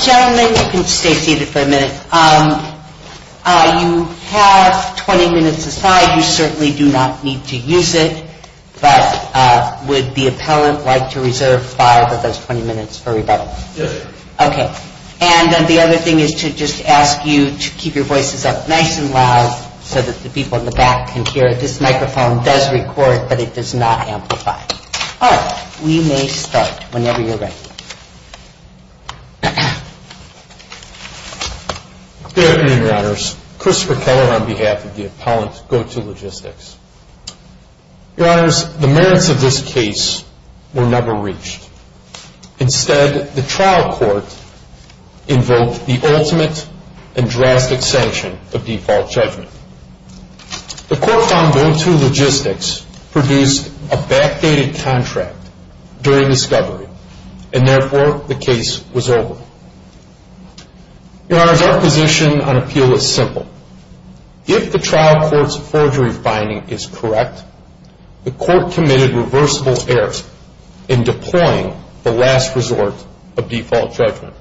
Gentlemen, you can stay seated for a minute. You have 20 minutes aside. You certainly do not need to use it, but would the appellant like to reserve five of those 20 minutes for rebuttal? Yes, ma'am. Okay. And the other thing is to just ask you to keep your voices up nice and loud so that the people in the back can hear. This microphone does record, but it does not amplify. All right. We may start whenever you're ready. Good afternoon, Your Honors. Christopher Keller on behalf of the appellant, Go To Logistics. Your Honors, the merits of this case were never reached. Instead, the trial court invoked the ultimate and drastic sanction of default judgment. The court found Go To Logistics produced a backdated contract during discovery, and therefore the case was over. Your Honors, our position on appeal is simple. If the trial court's forgery finding is correct, the court committed reversible errors in deploying the last resort of default judgment.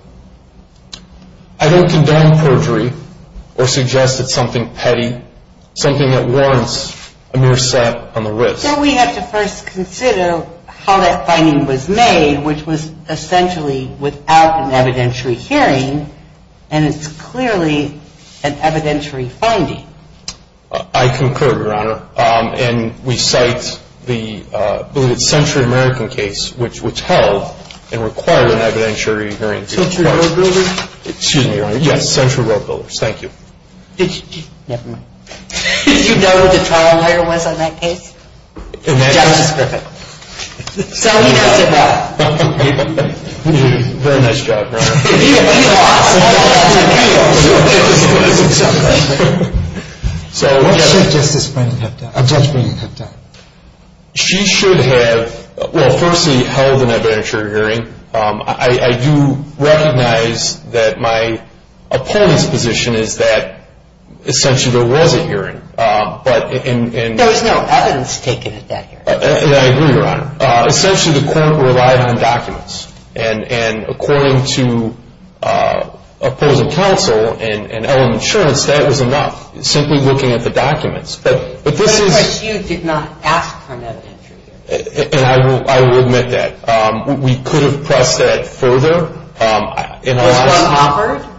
I don't condemn perjury or suggest it's something petty, something that warrants a mere slap on the wrist. So we have to first consider how that finding was made, which was essentially without an evidentiary hearing, and it's clearly an evidentiary finding. I concur, Your Honor. And we cite the believed Century American case, which held and required an evidentiary hearing. Century Road Builders? Excuse me, Your Honor. Yes, Century Road Builders. Thank you. Did you know who the trial lawyer was on that case? Justice Griffith. Very nice job, Your Honor. What should Judge Brennan have done? She should have, well, firstly, held an evidentiary hearing. I do recognize that my opponent's position is that essentially there was a hearing, but in… There was no evidence taken at that hearing. And I agree, Your Honor. Essentially, the court relied on documents, and according to opposing counsel and Ellen Insurance, that was enough, simply looking at the documents. But this is… But you did not ask for an evidentiary hearing. And I will admit that. We could have pressed that further. Was one offered?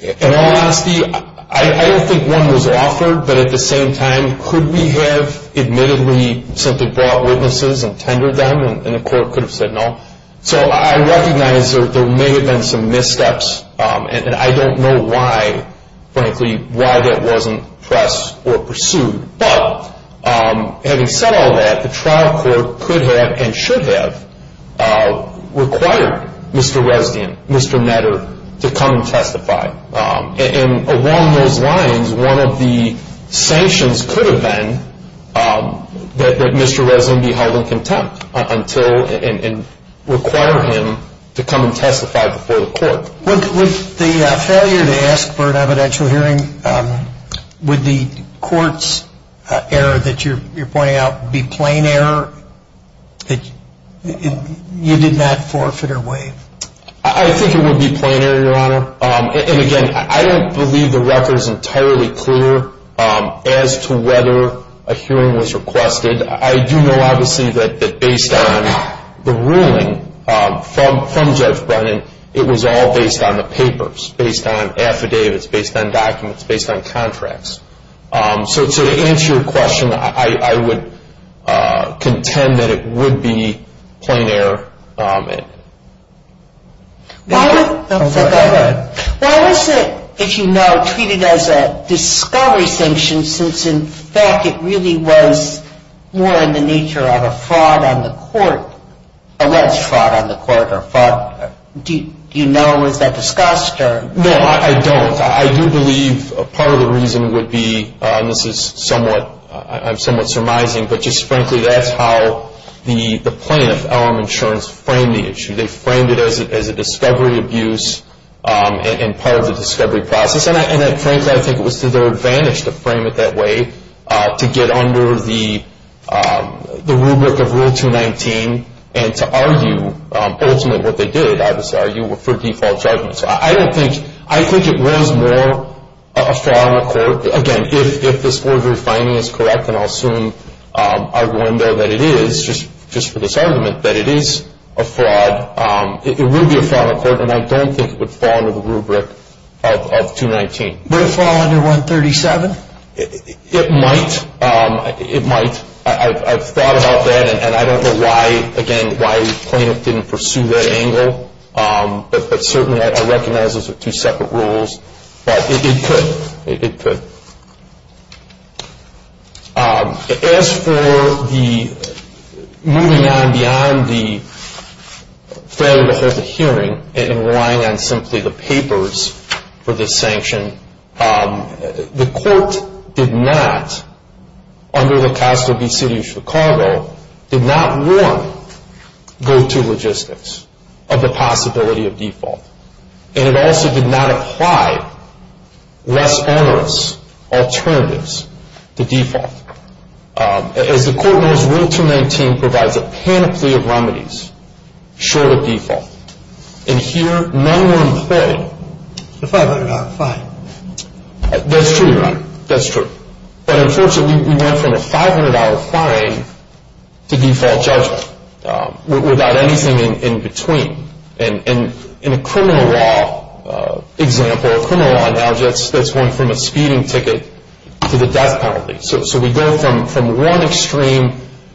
In all honesty, I don't think one was offered, but at the same time, could we have admittedly simply brought witnesses and tendered them, and the court could have said no? So I recognize there may have been some missteps, and I don't know why, frankly, why that wasn't pressed or pursued. But having said all that, the trial court could have and should have required Mr. Resnian, Mr. Netter, to come and testify. And along those lines, one of the sanctions could have been that Mr. Resnian be held in contempt and require him to come and testify before the court. With the failure to ask for an evidentiary hearing, would the court's error that you're pointing out be plain error that you did not forfeit or waive? I think it would be plain error, Your Honor. And again, I don't believe the record is entirely clear as to whether a hearing was requested. I do know, obviously, that based on the ruling from Judge Brennan, it was all based on the papers, based on affidavits, based on documents, based on contracts. So to answer your question, I would contend that it would be plain error. Why was it, if you know, treated as a discovery sanction since, in fact, it really was more in the nature of a fraud on the court, a alleged fraud on the court? Do you know? Was that discussed? No, I don't. I do believe part of the reason would be, and this is somewhat surmising, but just frankly, that's how the plaintiff, LM Insurance, framed the issue. They framed it as a discovery abuse and part of the discovery process. And frankly, I think it was to their advantage to frame it that way, to get under the rubric of Rule 219, and to argue ultimately what they did, obviously, argue for default judgment. So I don't think, I think it was more a fraud on the court, again, if this forgery finding is correct, and I'll assume I'll go in there that it is, just for this argument, that it is a fraud. It would be a fraud on the court, and I don't think it would fall under the rubric of 219. Would it fall under 137? It might. It might. I've thought about that, and I don't know why, again, why the plaintiff didn't pursue that angle. But certainly I recognize those are two separate rules. But it could. It could. As for the moving on beyond the failure to hold the hearing and relying on simply the papers for this sanction, the court did not, under the Castle v. City of Chicago, did not warn go-to logistics of the possibility of default. And it also did not apply less onerous alternatives to default. As the court knows, Rule 219 provides a panoply of remedies short of default. And here none were employed. A $500 fine. That's true, Your Honor. That's true. But unfortunately we went from a $500 fine to default judgment without anything in between. And in a criminal law example, a criminal law analogy, that's going from a speeding ticket to the death penalty. So we go from one extreme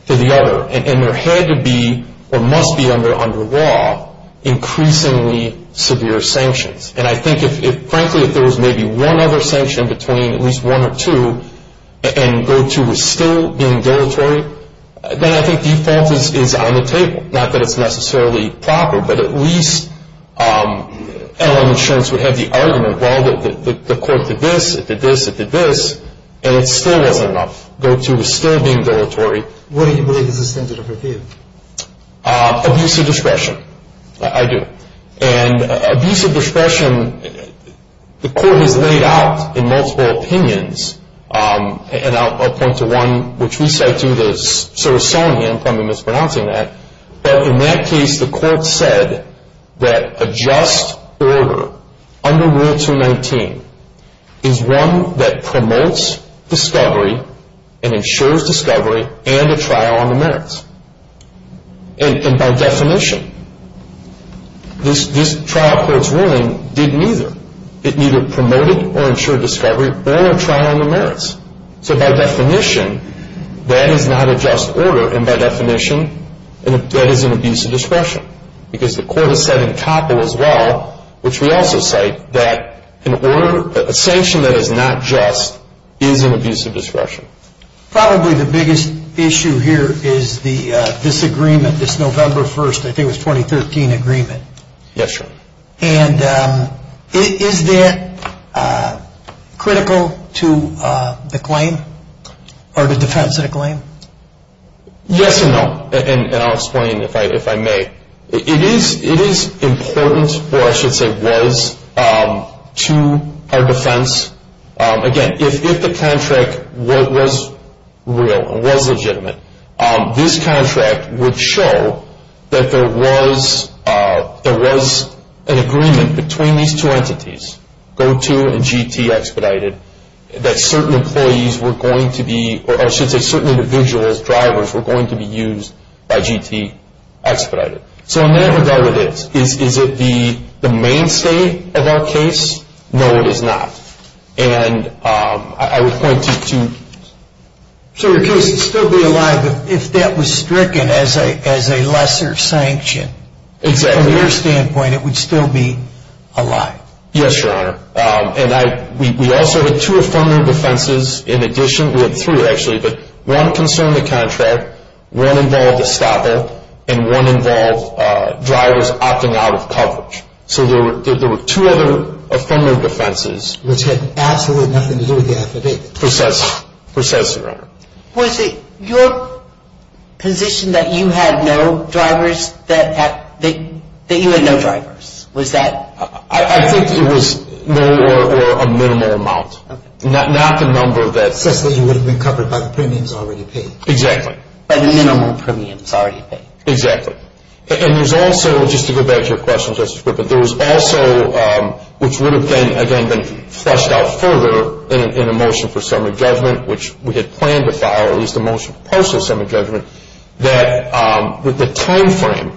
to the other. And there had to be, or must be under law, increasingly severe sanctions. And I think, frankly, if there was maybe one other sanction between at least one or two, and Go-To was still being dilatory, then I think default is on the table. Not that it's necessarily proper, but at least L.M. Insurance would have the argument, well, the court did this, it did this, it did this, and it still wasn't enough. Go-To was still being dilatory. What do you believe is the standard of appeal? Abuse of discretion. I do. And abuse of discretion, the court has laid out in multiple opinions, and I'll point to one which we cite too, the Sorosonian, pardon me for mispronouncing that. But in that case, the court said that a just order under Rule 219 is one that promotes discovery and ensures discovery and a trial on the merits. And by definition, this trial court's ruling didn't either. It neither promoted or ensured discovery or a trial on the merits. So by definition, that is not a just order, and by definition, that is an abuse of discretion. Because the court has said in COPL as well, which we also cite, that an order, a sanction that is not just is an abuse of discretion. Probably the biggest issue here is the disagreement, this November 1st, I think it was 2013 agreement. Yes, sir. And is that critical to the claim or the defense of the claim? Yes and no, and I'll explain if I may. It is important, or I should say was, to our defense. Again, if the contract was real and was legitimate, this contract would show that there was an agreement between these two entities, GOTO and GT expedited, that certain employees were going to be, or I should say certain individuals, drivers, were going to be used by GT expedited. So in that regard, is it the mainstay of our case? No, it is not. And I would point you to... So your case would still be alive if that was stricken as a lesser sanction. Exactly. From your standpoint, it would still be alive. Yes, Your Honor. And we also had two affirmative offenses in addition, we had three actually, but one concerned the contract, one involved a stopper, and one involved drivers opting out of coverage. So there were two other affirmative defenses... Which had absolutely nothing to do with the affidavit. Precisely, Your Honor. Was it your position that you had no drivers, that you had no drivers? Was that... I think it was more or a minimal amount. Okay. Not the number that... Such that you would have been covered by the premiums already paid. Exactly. By the minimal premiums already paid. Exactly. And there's also, just to go back to your question, Justice Crippen, there was also, which would have again been fleshed out further in a motion for summary judgment, which we had planned to file, at least a motion for partial summary judgment, that with the time frame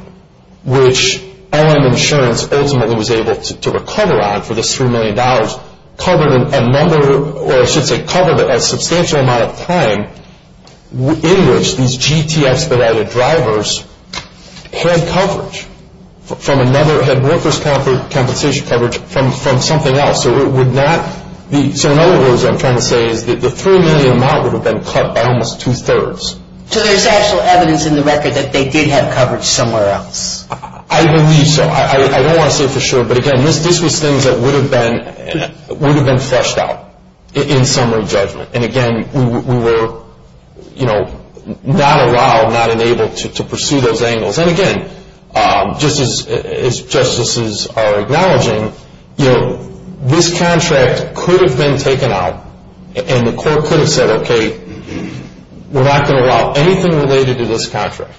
which LM Insurance ultimately was able to recover on for this $3 million, covered a number, or I should say covered a substantial amount of time in which these GT expedited drivers had coverage from another, had workers' compensation coverage from something else. So it would not be... So in other words, what I'm trying to say is that the $3 million amount would have been cut by almost two-thirds. So there's actual evidence in the record that they did have coverage somewhere else. I believe so. I don't want to say for sure, but again, this was things that would have been fleshed out in summary judgment. And again, we were not allowed, not enabled to pursue those angles. And again, just as justices are acknowledging, this contract could have been taken out and the court could have said, okay, we're not going to allow anything related to this contract.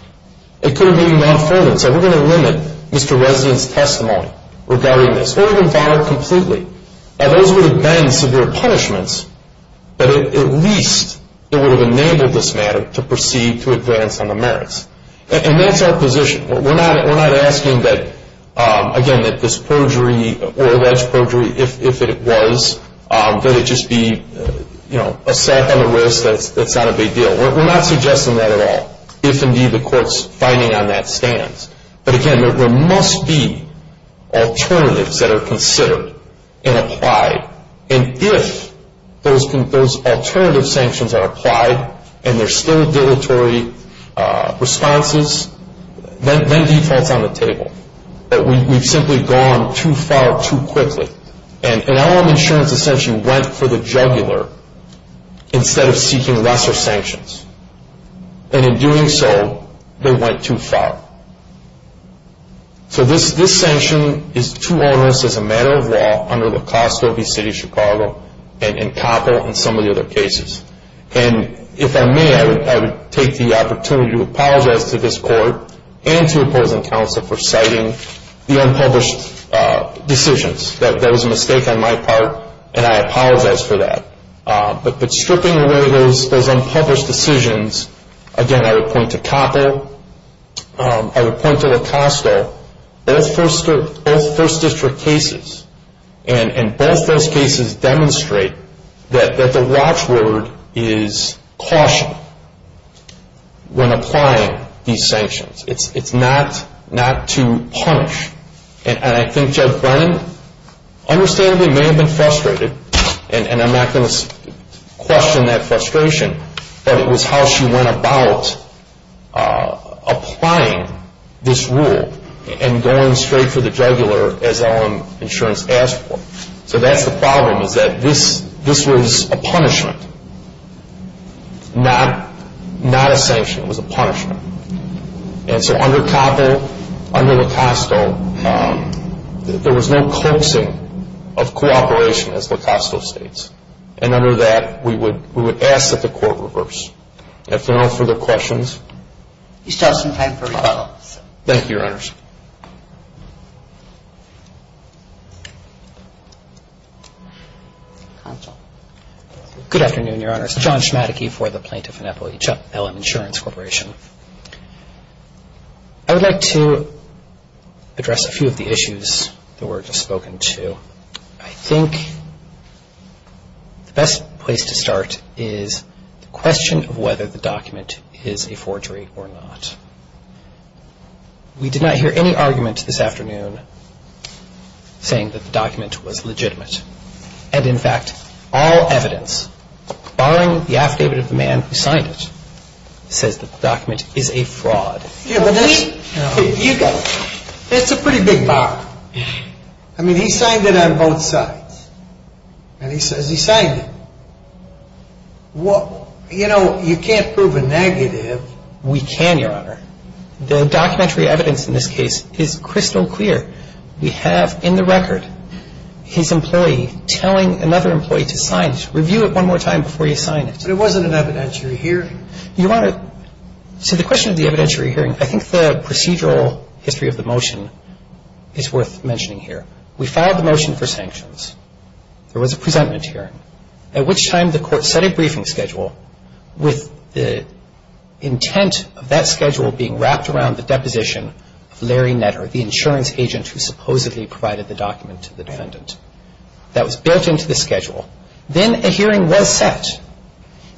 It could have even gone further and said, we're going to limit Mr. Resnick's testimony regarding this. It would have been filed completely. Now, those would have been severe punishments, but at least it would have enabled this matter to proceed to advance on the merits. And that's our position. We're not asking that, again, that this perjury or alleged perjury, if it was, that it just be a sack on the wrist. That's not a big deal. We're not suggesting that at all, if indeed the court's finding on that stands. But again, there must be alternatives that are considered and applied. And if those alternative sanctions are applied and there's still dilatory responses, then default's on the table. But we've simply gone too far too quickly. And LM Insurance essentially went for the jugular instead of seeking lesser sanctions. And in doing so, they went too far. So this sanction is too onerous as a matter of law under LaCoste, OVC, Chicago, and COPL and some of the other cases. And if I may, I would take the opportunity to apologize to this court and to opposing counsel for citing the unpublished decisions. That was a mistake on my part, and I apologize for that. But stripping away those unpublished decisions, again, I would point to COPL. I would point to LaCoste. Both First District cases and both those cases demonstrate that the watchword is caution when applying these sanctions. It's not to punish. And I think Judge Brennan understandably may have been frustrated, and I'm not going to question that frustration, but it was how she went about applying this rule and going straight for the jugular as LM Insurance asked for. So that's the problem, is that this was a punishment, not a sanction. It was a punishment. And so under COPL, under LaCoste, there was no closing of cooperation as LaCoste states. And under that, we would ask that the court reverse. If there are no further questions. We still have some time for rebuttals. Thank you, Your Honors. Counsel. Good afternoon, Your Honors. John Schmadeke for the Plaintiff and Employee, LM Insurance Corporation. I would like to address a few of the issues that were just spoken to. I think the best place to start is the question of whether the document is a forgery or not. We did not hear any argument this afternoon saying that the document was legitimate. And, in fact, all evidence, barring the affidavit of the man who signed it, says that the document is a fraud. Yeah, but you got it. It's a pretty big bar. I mean, he signed it on both sides. And he says he signed it. Well, you know, you can't prove a negative. We can, Your Honor. The documentary evidence in this case is crystal clear. We have in the record his employee telling another employee to sign it. Review it one more time before you sign it. But it wasn't an evidentiary hearing. You want to – so the question of the evidentiary hearing, I think the procedural history of the motion is worth mentioning here. We filed the motion for sanctions. There was a presentment hearing. At which time the court set a briefing schedule with the intent of that schedule being wrapped around the deposition of Larry Netter, the insurance agent who supposedly provided the document to the defendant. That was built into the schedule. Then a hearing was set.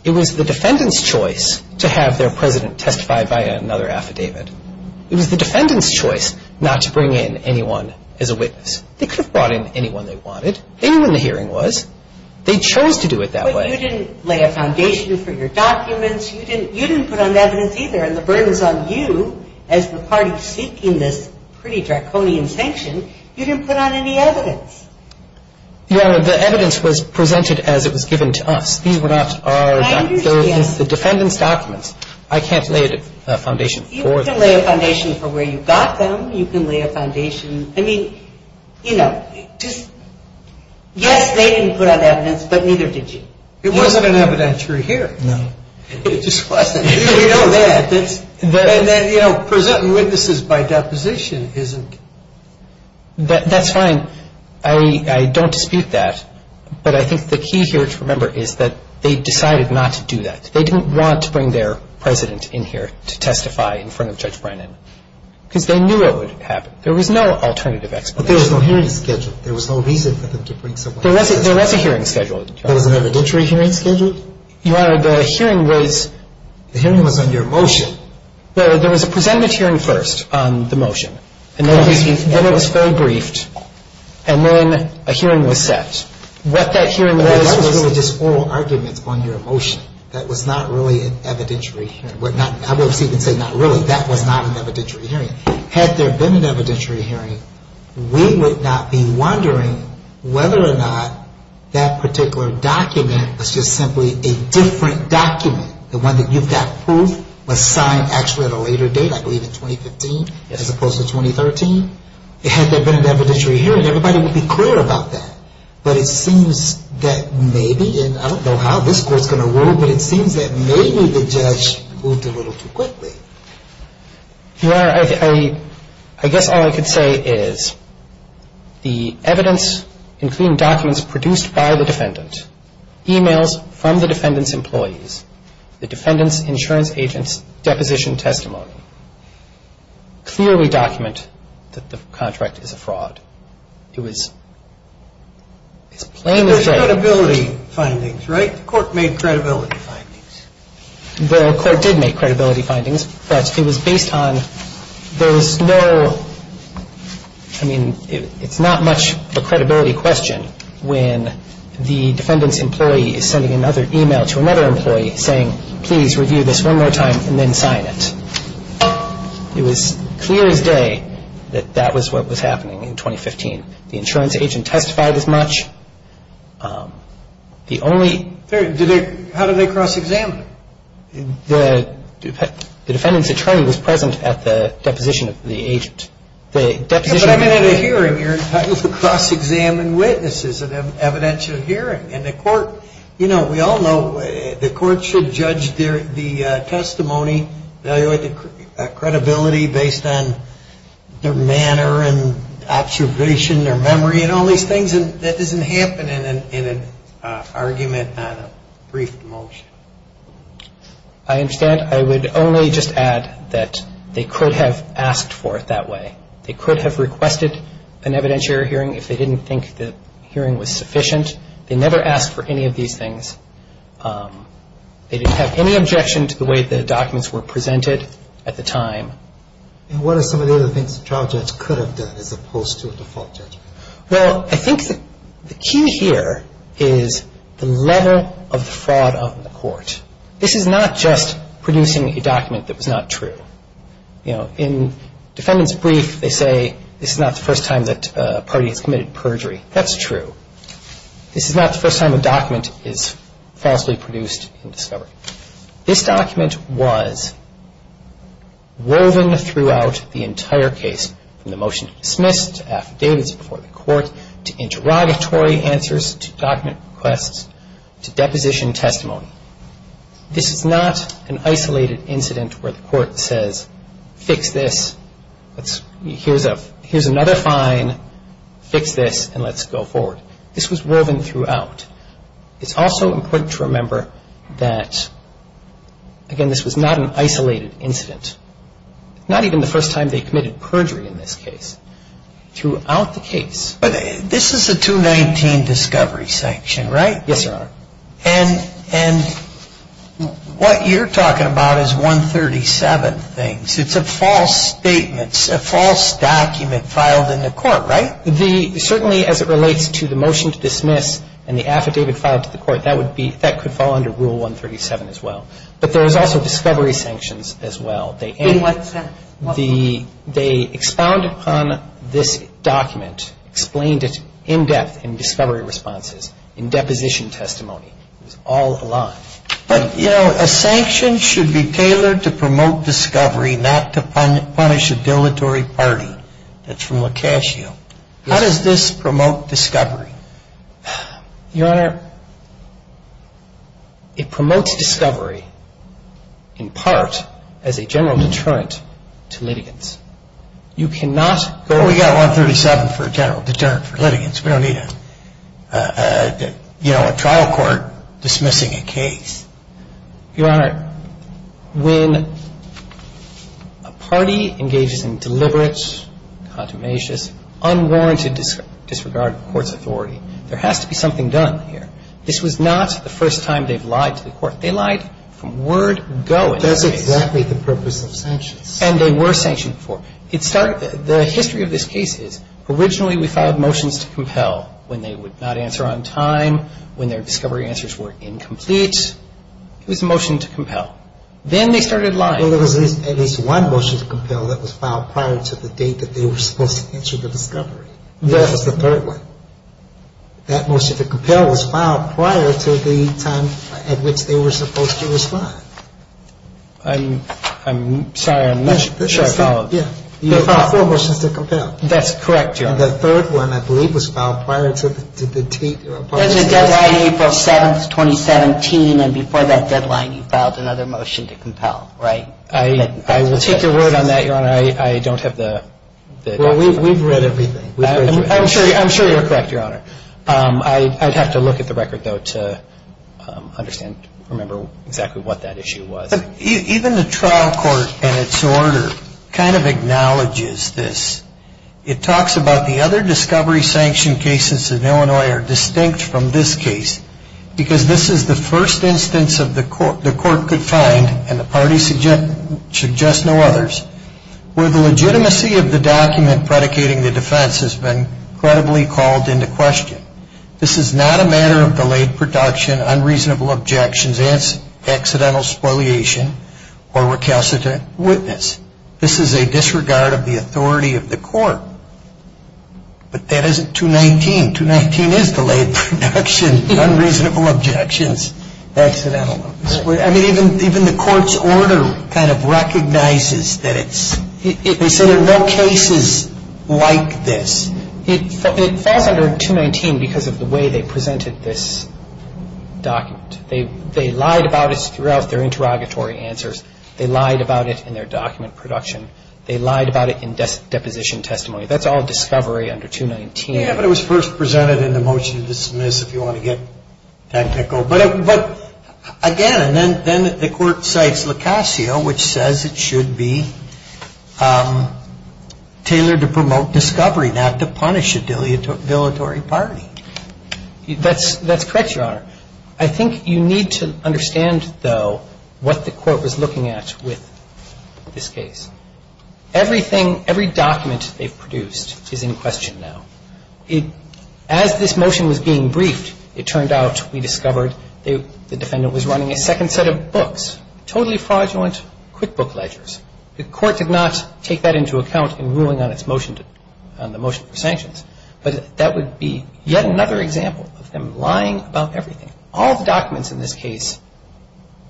It was the defendant's choice to have their president testify via another affidavit. It was the defendant's choice not to bring in anyone as a witness. They could have brought in anyone they wanted. They knew when the hearing was. They chose to do it that way. But you didn't lay a foundation for your documents. You didn't put on evidence either. And the burden's on you as the party seeking this pretty draconian sanction. You didn't put on any evidence. Your Honor, the evidence was presented as it was given to us. These were not our – I understand. They're the defendant's documents. I can't lay a foundation for them. You can lay a foundation for where you got them. You can lay a foundation – I mean, you know, just – Yes, they didn't put on evidence, but neither did you. It wasn't an evidentiary hearing. No. It just wasn't. You know that. And then, you know, presenting witnesses by deposition isn't – That's fine. I don't dispute that. But I think the key here to remember is that they decided not to do that. They didn't want to bring their president in here to testify in front of Judge Brennan because they knew it would happen. There was no alternative explanation. But there was no hearing schedule. There was no reason for them to bring someone in. There was a hearing schedule. There was an evidentiary hearing schedule? Your Honor, the hearing was – The hearing was on your motion. There was a presentment hearing first on the motion. And then it was forebriefed. And then a hearing was set. What that hearing was – That was really just oral arguments on your motion. That was not really an evidentiary hearing. I won't even say not really. That was not an evidentiary hearing. Had there been an evidentiary hearing, we would not be wondering whether or not that particular document was just simply a different document, the one that you've got proof was signed actually at a later date, I believe, in 2015 as opposed to 2013. Had there been an evidentiary hearing, everybody would be clear about that. But it seems that maybe, and I don't know how this Court is going to rule, but it seems that maybe the judge moved a little too quickly. Your Honor, I guess all I could say is the evidence, including documents produced by the defendant, emails from the defendant's employees, the defendant's insurance agent's deposition testimony, clearly document that the contract is a fraud. It was plain and straight. It was credibility findings, right? The Court made credibility findings. The Court did make credibility findings, but it was based on those no, I mean, it's not much of a credibility question when the defendant's employee is sending another email to another employee saying, please review this one more time and then sign it. It was clear as day that that was what was happening in 2015. The insurance agent testified as much. The only. How did they cross-examine? The defendant's attorney was present at the deposition of the agent. But I mean at a hearing. You're supposed to cross-examine witnesses at an evidentiary hearing. And the Court, you know, we all know the Court should judge the testimony, evaluate the credibility based on their manner and observation, their memory, and all these things, and that doesn't happen in an argument on a brief motion. I understand. I would only just add that they could have asked for it that way. They could have requested an evidentiary hearing if they didn't think the hearing was sufficient. They never asked for any of these things. They didn't have any objection to the way the documents were presented at the time. And what are some of the other things a trial judge could have done as opposed to a default judge? Well, I think the key here is the level of the fraud on the Court. This is not just producing a document that was not true. You know, in defendant's brief, they say this is not the first time that a party has committed perjury. That's true. This is not the first time a document is falsely produced in discovery. This document was woven throughout the entire case, from the motion to dismiss, to affidavits before the Court, to interrogatory answers, to document requests, to deposition testimony. This is not an isolated incident where the Court says, fix this, here's another fine, fix this, and let's go forward. This was woven throughout. It's also important to remember that, again, this was not an isolated incident. Not even the first time they committed perjury in this case. Throughout the case. But this is a 219 discovery sanction, right? Yes, Your Honor. And what you're talking about is 137 things. It's a false statement. It's a false document filed in the Court, right? Certainly, as it relates to the motion to dismiss and the affidavit filed to the Court, that could fall under Rule 137 as well. But there is also discovery sanctions as well. In what sense? They expound upon this document, explained it in depth in discovery responses, in deposition testimony. It was all aligned. But, you know, a sanction should be tailored to promote discovery, not to punish a dilatory party. That's from Locascio. How does this promote discovery? Your Honor, it promotes discovery in part as a general deterrent to litigants. You cannot go... We got 137 for a general deterrent for litigants. Your Honor, when a party engages in deliberate, contumacious, unwarranted disregard of court's authority, there has to be something done here. This was not the first time they've lied to the Court. They lied from word go in this case. That's exactly the purpose of sanctions. And they were sanctioned before. The history of this case is originally we filed motions to compel when they would not answer on time, when their discovery answers were incomplete. It was a motion to compel. Then they started lying. Well, there was at least one motion to compel that was filed prior to the date that they were supposed to answer the discovery. Yes. That's the third one. That motion to compel was filed prior to the time at which they were supposed to respond. I'm sorry, I'm not sure I followed. Yeah. You filed four motions to compel. That's correct, Your Honor. The third one, I believe, was filed prior to the date. There's a deadline, April 7, 2017. And before that deadline, you filed another motion to compel, right? I will take your word on that, Your Honor. I don't have the document. Well, we've read everything. I'm sure you're correct, Your Honor. I'd have to look at the record, though, to understand, remember exactly what that issue was. Even the trial court, in its order, kind of acknowledges this. It talks about the other discovery sanction cases in Illinois are distinct from this case because this is the first instance the court could find, and the parties suggest no others, where the legitimacy of the document predicating the defense has been credibly called into question. This is not a matter of delayed production, unreasonable objections, accidental spoliation, or recalcitrant witness. This is a disregard of the authority of the court. But that isn't 219. 219 is delayed production, unreasonable objections, accidental spoliation. I mean, even the court's order kind of recognizes that it's – they say there are no cases like this. It falls under 219 because of the way they presented this document. They lied about it throughout their interrogatory answers. They lied about it in their document production. They lied about it in deposition testimony. That's all discovery under 219. Yeah, but it was first presented in the motion to dismiss, if you want to get technical. But again, and then the court cites Locasio, which says it should be tailored to promote discovery, not to punish a dilatory party. That's correct, Your Honor. I think you need to understand, though, what the court was looking at with this case. Everything – every document they've produced is in question now. As this motion was being briefed, it turned out, we discovered, the defendant was running a second set of books, totally fraudulent QuickBook ledgers. The court did not take that into account in ruling on its motion to – on the motion for sanctions. But that would be yet another example of them lying about everything. All the documents in this case –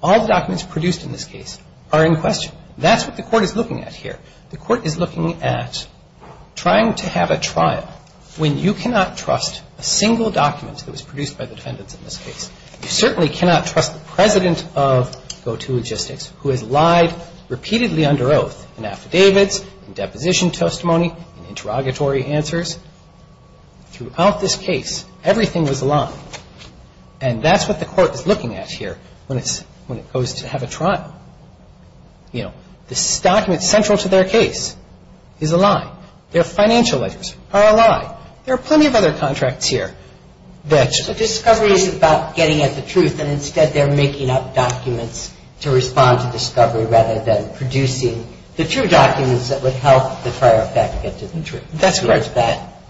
all the documents produced in this case are in question. That's what the court is looking at here. The court is looking at trying to have a trial when you cannot trust a single document that was produced by the defendants in this case. You certainly cannot trust the president of GoToLogistics, who has lied repeatedly under oath, in affidavits, in deposition testimony, in interrogatory answers. Throughout this case, everything was lying. And that's what the court is looking at here when it's – when it goes to have a trial. You know, this document central to their case is a lie. Their financial letters are a lie. There are plenty of other contracts here that – So discovery is about getting at the truth, and instead they're making up documents to respond to discovery rather than producing the true documents that would help the prior effect get to the truth. That's correct.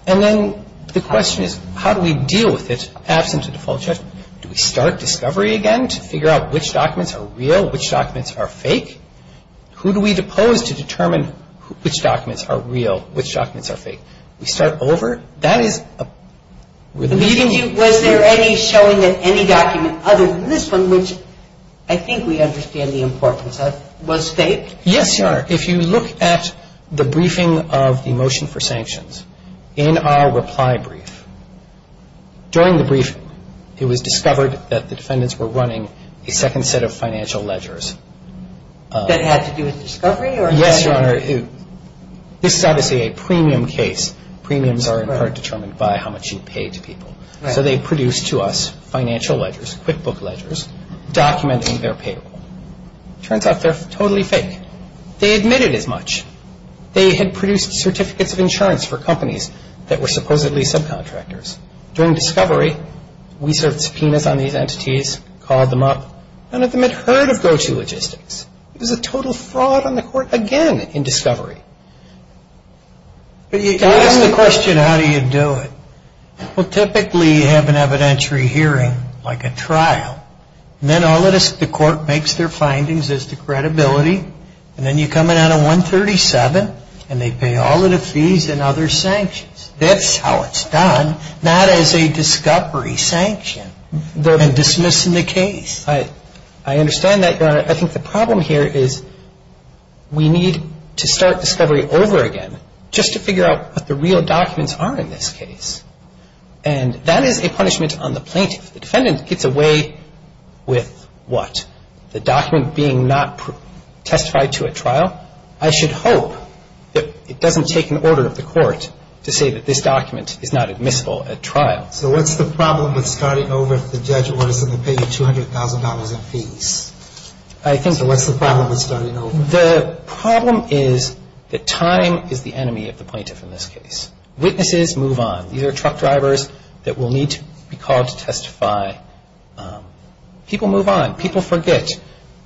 And then the question is, how do we deal with it absent a default judgment? Do we start discovery again to figure out which documents are real, which documents are fake? Who do we depose to determine which documents are real, which documents are fake? We start over. That is a – But you didn't do – was there any showing that any document other than this one, which I think we understand the importance of, was fake? Yes, Your Honor. If you look at the briefing of the motion for sanctions in our reply brief, during the briefing it was discovered that the defendants were running a second set of financial ledgers. That had to do with discovery or – Yes, Your Honor. This is obviously a premium case. Premiums are in part determined by how much you pay to people. So they produced to us financial ledgers, QuickBook ledgers, documenting their payroll. Turns out they're totally fake. They admitted as much. They had produced certificates of insurance for companies that were supposedly subcontractors. During discovery, we served subpoenas on these entities, called them up. None of them had heard of GoToLogistics. It was a total fraud on the court again in discovery. Can I ask the question, how do you do it? Well, typically you have an evidentiary hearing, like a trial, and then the court makes their findings as to credibility, and then you come in on a 137 and they pay all of the fees and other sanctions. That's how it's done, not as a discovery sanction. They're dismissing the case. I understand that, Your Honor. I think the problem here is we need to start discovery over again, just to figure out what the real documents are in this case. And that is a punishment on the plaintiff. The defendant gets away with what? The document being not testified to at trial? I should hope that it doesn't take an order of the court to say that this document is not admissible at trial. So what's the problem with starting over if the judge orders them to pay you $200,000 in fees? So what's the problem with starting over? The problem is that time is the enemy of the plaintiff in this case. Witnesses move on. These are truck drivers that will need to be called to testify. People move on. People forget.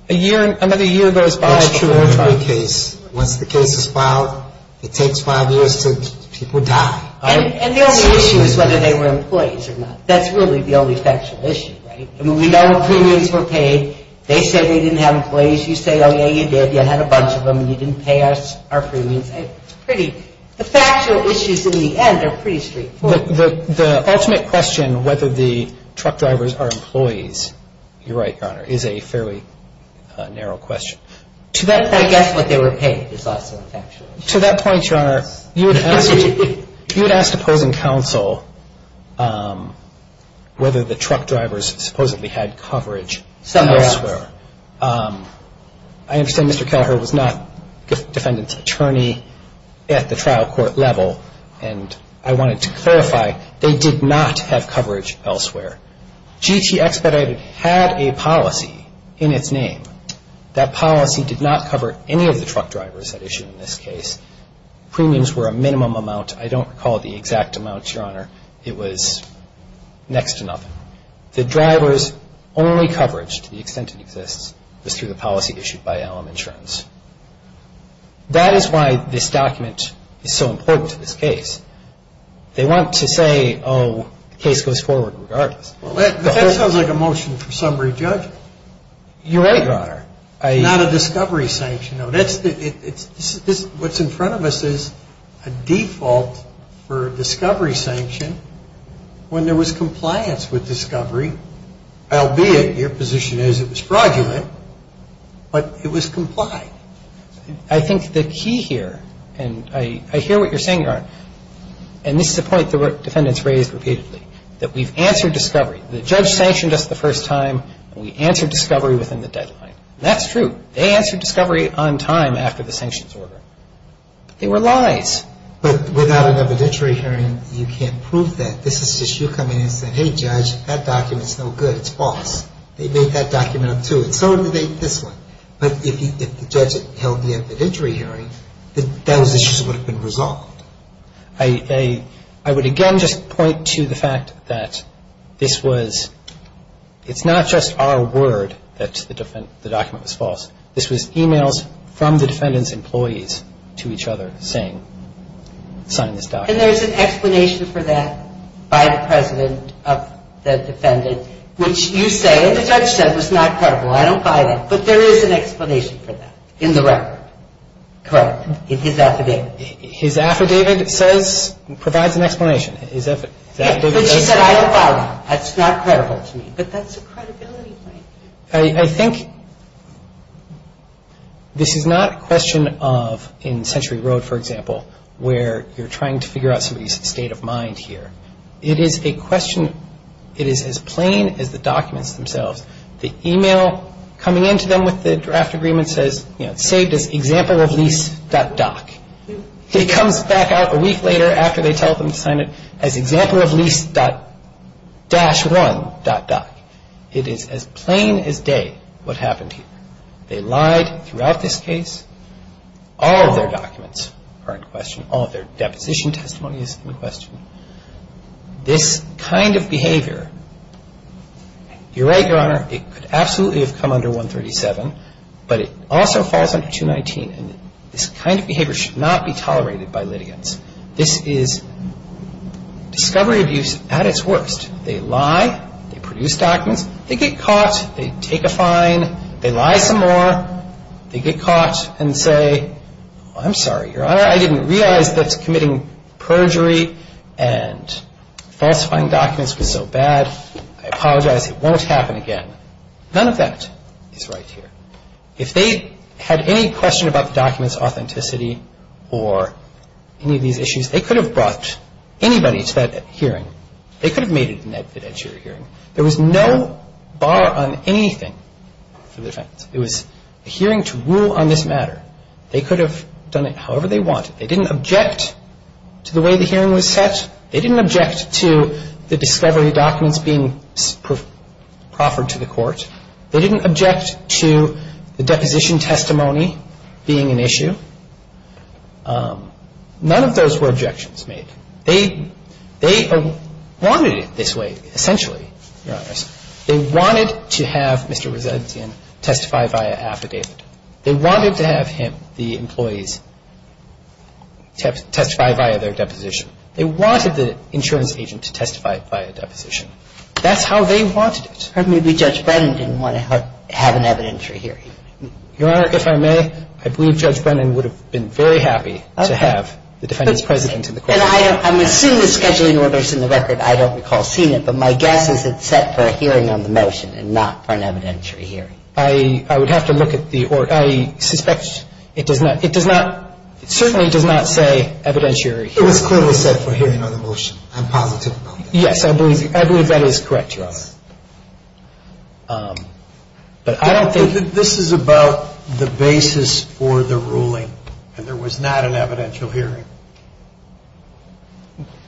Another year goes by. Once the case is filed, it takes five years until people die. And the only issue is whether they were employees or not. That's really the only factual issue, right? I mean, we know premiums were paid. They say they didn't have employees. You say, oh, yeah, you did. You had a bunch of them and you didn't pay us our premiums. The factual issues in the end are pretty straightforward. The ultimate question whether the truck drivers are employees, you're right, Your Honor, is a fairly narrow question. To that point, that's what they were paid is lots of factual issues. To that point, Your Honor, you had asked opposing counsel whether the truck drivers supposedly had coverage elsewhere. Somewhere else. I understand Mr. Kelleher was not defendant's attorney at the trial court level. And I wanted to clarify, they did not have coverage elsewhere. GT Expedited had a policy in its name. That policy did not cover any of the truck drivers that issued in this case. Premiums were a minimum amount. I don't recall the exact amount, Your Honor. It was next to nothing. The drivers' only coverage, to the extent it exists, was through the policy issued by LM Insurance. That is why this document is so important to this case. They want to say, oh, the case goes forward regardless. But that sounds like a motion for summary judgment. You're right, Your Honor. Not a discovery sanction. What's in front of us is a default for discovery sanction when there was compliance with discovery, albeit your position is it was fraudulent, but it was complied. I think the key here, and I hear what you're saying, Your Honor, and this is a point the defendants raised repeatedly, that we've answered discovery. The judge sanctioned us the first time, and we answered discovery within the deadline. That's true. They answered discovery on time after the sanctions order. They were lies. But without an evidentiary hearing, you can't prove that. This is just you coming in and saying, hey, judge, that document's no good. It's false. They made that document up, too. And so did they with this one. But if the judge held the evidentiary hearing, those issues would have been resolved. I would again just point to the fact that this was, it's not just our word that the document was false. This was emails from the defendant's employees to each other saying, sign this document. And there's an explanation for that by the president of the defendant, which you say, the judge said was not credible. I don't buy that. But there is an explanation for that in the record, correct, in his affidavit. His affidavit says, provides an explanation. But she said I don't buy that. That's not credible to me. But that's a credibility point. I think this is not a question of in Century Road, for example, where you're trying to figure out somebody's state of mind here. It is a question, it is as plain as the documents themselves. The email coming in to them with the draft agreement says, you know, it's saved as exampleoflease.doc. It comes back out a week later after they tell them to sign it as exampleoflease-1.doc. It is as plain as day what happened here. They lied throughout this case. All of their documents are in question. All of their deposition testimony is in question. This kind of behavior, you're right, Your Honor, it could absolutely have come under 137. But it also falls under 219. And this kind of behavior should not be tolerated by litigants. This is discovery abuse at its worst. They lie. They produce documents. They get caught. They take a fine. They lie some more. They get caught and say, I'm sorry, Your Honor, I didn't realize that committing perjury and falsifying documents was so bad. I apologize. It won't happen again. None of that is right here. If they had any question about the document's authenticity or any of these issues, they could have brought anybody to that hearing. They could have made it an evidentiary hearing. There was no bar on anything for the defense. It was a hearing to rule on this matter. They could have done it however they wanted. They didn't object to the way the hearing was set. They didn't object to the discovery documents being proffered to the court. They didn't object to the deposition testimony being an issue. None of those were objections made. They wanted it this way, essentially, Your Honors. They wanted to have Mr. Resentian testify via affidavit. They wanted to have him, the employees, testify via their deposition. They wanted the insurance agent to testify via deposition. That's how they wanted it. Or maybe Judge Brennan didn't want to have an evidentiary hearing. Your Honor, if I may, I believe Judge Brennan would have been very happy to have the defendant's president in the courtroom. And I'm assuming the scheduling order is in the record. I don't recall seeing it. But my guess is it's set for a hearing on the motion and not for an evidentiary hearing. I would have to look at the order. I suspect it does not, it does not, it certainly does not say evidentiary hearing. It was clearly set for hearing on the motion. I'm positive about that. Yes, I believe that is correct, Your Honor. Yes. But I don't think. This is about the basis for the ruling. And there was not an evidential hearing.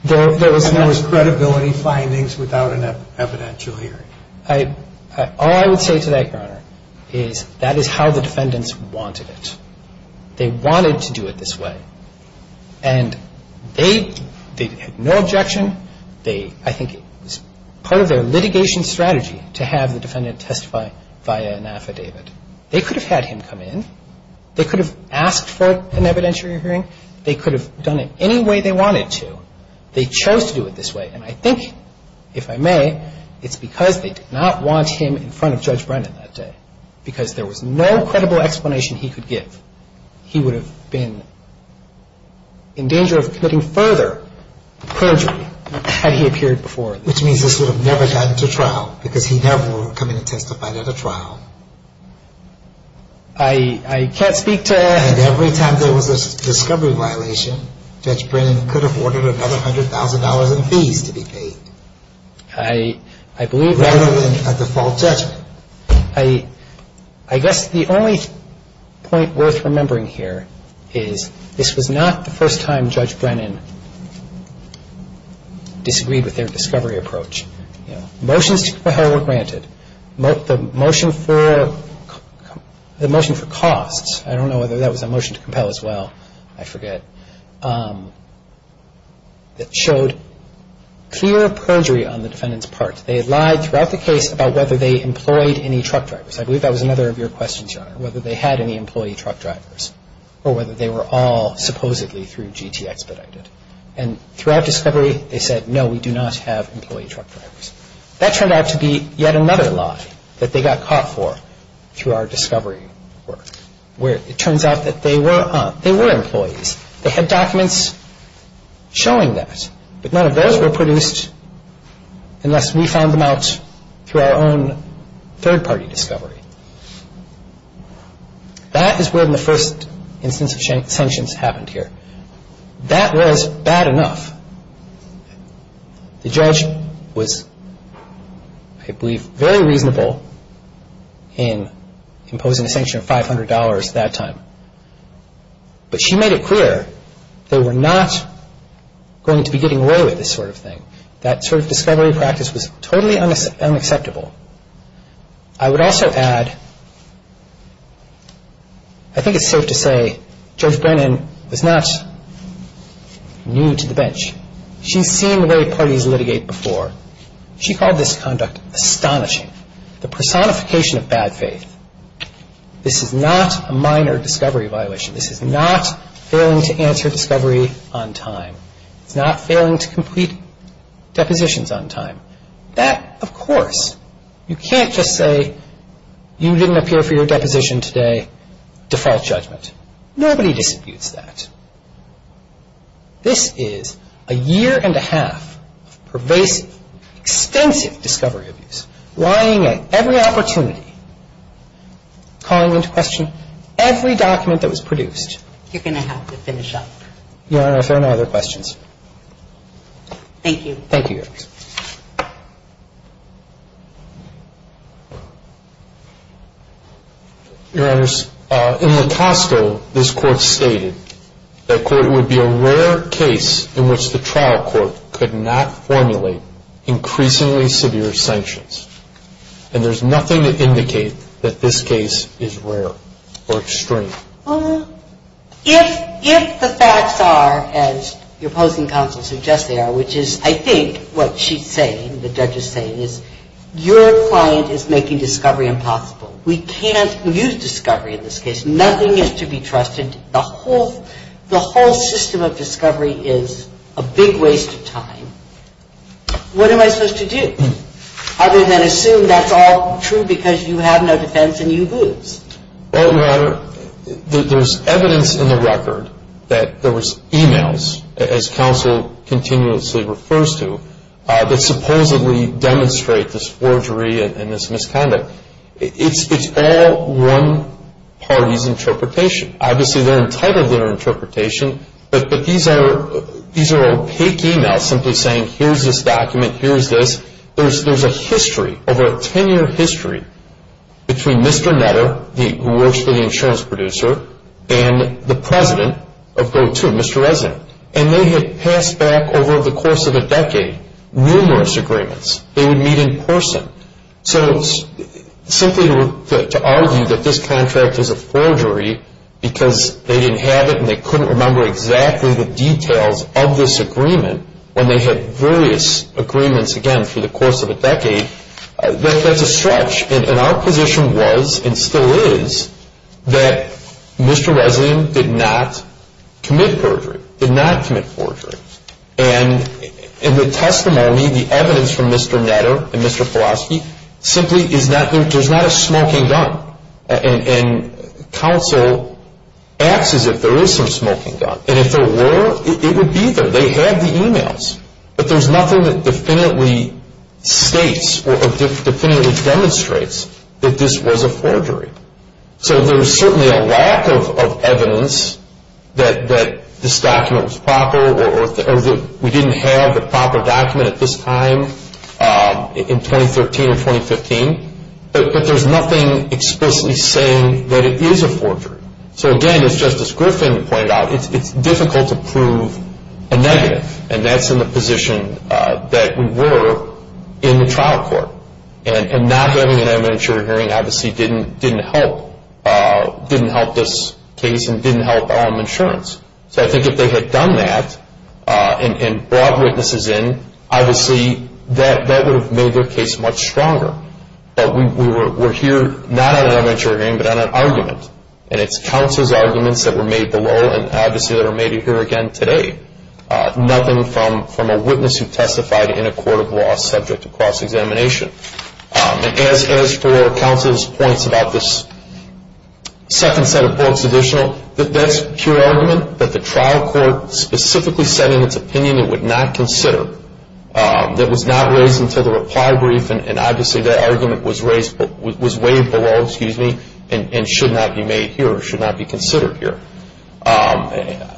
There was not. I don't think we can do any findings without an evidentiary hearing. All I would say to that, Your Honor, is that is how the defendants wanted it. They wanted to do it this way. And they, they had no objection. They, I think it was part of their litigation strategy to have the defendant testify via an affidavit. They could have had him come in. They could have asked for an evidentiary hearing. They could have done it any way they wanted to. They chose to do it this way. And I think, if I may, it's because they did not want him in front of Judge Brennan that day. Because there was no credible explanation he could give. He would have been in danger of committing further perjury had he appeared before. Which means this would have never gotten to trial. Because he never would have come in and testified at a trial. I, I can't speak to... And every time there was a discovery violation, Judge Brennan could have ordered another $100,000 in fees to be paid. I, I believe that... Rather than a default judgment. I, I guess the only point worth remembering here is this was not the first time Judge Brennan disagreed with their discovery approach. Motions to compel were granted. The motion for costs, I don't know whether that was a motion to compel as well. I forget. That showed clear perjury on the defendant's part. They lied throughout the case about whether they employed any truck drivers. I believe that was another of your questions, Your Honor. Whether they had any employee truck drivers. Or whether they were all supposedly through GT expedited. And throughout discovery, they said, no, we do not have employee truck drivers. That turned out to be yet another lie that they got caught for through our discovery work. Where it turns out that they were, they were employees. They had documents showing that. But none of those were produced unless we found them out through our own third-party discovery. That is where the first instance of sanctions happened here. That was bad enough. The judge was, I believe, very reasonable in imposing a sanction of $500 that time. But she made it clear they were not going to be getting away with this sort of thing. That sort of discovery practice was totally unacceptable. I would also add, I think it's safe to say Judge Brennan was not new to the bench. She's seen the way parties litigate before. She called this conduct astonishing. The personification of bad faith. This is not a minor discovery violation. This is not failing to answer discovery on time. It's not failing to complete depositions on time. That, of course, you can't just say you didn't appear for your deposition today. Default judgment. Nobody disabutes that. This is a year and a half of pervasive, extensive discovery abuse. Lying at every opportunity. Calling into question every document that was produced. You're going to have to finish up. Your Honor, if there are no other questions. Thank you. Thank you, Your Honor. Your Honor, in Lacoste, this Court stated that, quote, it would be a rare case in which the trial court could not formulate increasingly severe sanctions. And there's nothing to indicate that this case is rare or extreme. If the facts are, as your opposing counsel suggests they are, which is, I think, what she's saying, the judge is saying, is your client is making discovery impossible. We can't use discovery in this case. Nothing is to be trusted. The whole system of discovery is a big waste of time. What am I supposed to do other than assume that's all true because you have no defense and you lose? Well, Your Honor, there's evidence in the record that there was e-mails, as counsel continuously refers to, that supposedly demonstrate this forgery and this misconduct. It's all one party's interpretation. Obviously, they're entitled to their interpretation, but these are opaque e-mails simply saying, here's this document, here's this. There's a history, over a 10-year history, between Mr. Netter, who works for the insurance producer, and the president of GoTo, Mr. Resnick. And they had passed back over the course of a decade numerous agreements. They would meet in person. So simply to argue that this contract is a forgery because they didn't have it and they couldn't remember exactly the details of this agreement when they had various agreements, again, through the course of a decade, that's a stretch. And our position was, and still is, that Mr. Resnick did not commit forgery, did not commit forgery. And in the testimony, the evidence from Mr. Netter and Mr. Filofsky, simply there's not a smoking gun. And counsel acts as if there is some smoking gun. And if there were, it would be there. They had the e-mails. But there's nothing that definitively states or definitively demonstrates that this was a forgery. So there's certainly a lack of evidence that this document was proper or that we didn't have the proper document at this time in 2013 or 2015. But there's nothing explicitly saying that it is a forgery. So, again, as Justice Griffin pointed out, it's difficult to prove a negative. And that's in the position that we were in the trial court. And not having an evidentiary hearing obviously didn't help. It didn't help this case and didn't help Elm Insurance. So I think if they had done that and brought witnesses in, obviously that would have made their case much stronger. But we're here not on an evidentiary hearing but on an argument. And it's counsel's arguments that were made below and obviously that are made here again today. Nothing from a witness who testified in a court of law subject to cross-examination. And as for counsel's points about this second set of books additional, that's pure argument that the trial court specifically said in its opinion it would not consider, that was not raised until the reply brief. And obviously that argument was raised, was weighed below, excuse me, and should not be made here or should not be considered here. I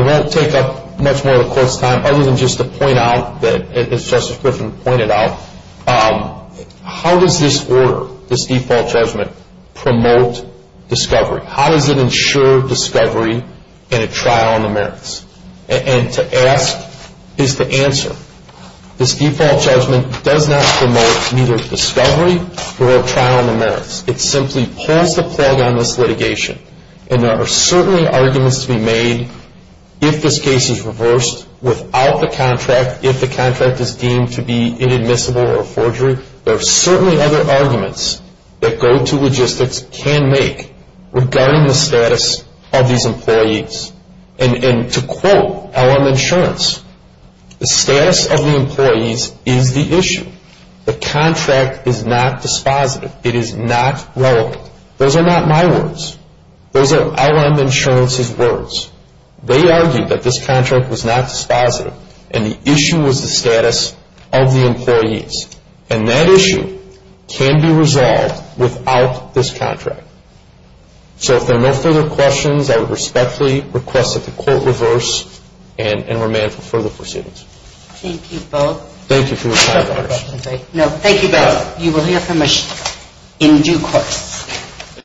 won't take up much more of the court's time other than just to point out that, as Justice Griffin pointed out, how does this order, this default judgment, promote discovery? How does it ensure discovery in a trial on the merits? And to ask is to answer. This default judgment does not promote either discovery or a trial on the merits. It simply pulls the plug on this litigation. And there are certainly arguments to be made if this case is reversed without the contract, if the contract is deemed to be inadmissible or a forgery. There are certainly other arguments that go to logistics can make regarding the status of these employees. And to quote LM Insurance, the status of the employees is the issue. The contract is not dispositive. It is not relevant. Those are not my words. Those are LM Insurance's words. They argued that this contract was not dispositive and the issue was the status of the employees. And that issue can be resolved without this contract. So if there are no further questions, I respectfully request that the court reverse and remand for further proceedings. Thank you both. Thank you for your time. Thank you both. You will hear from us in due course.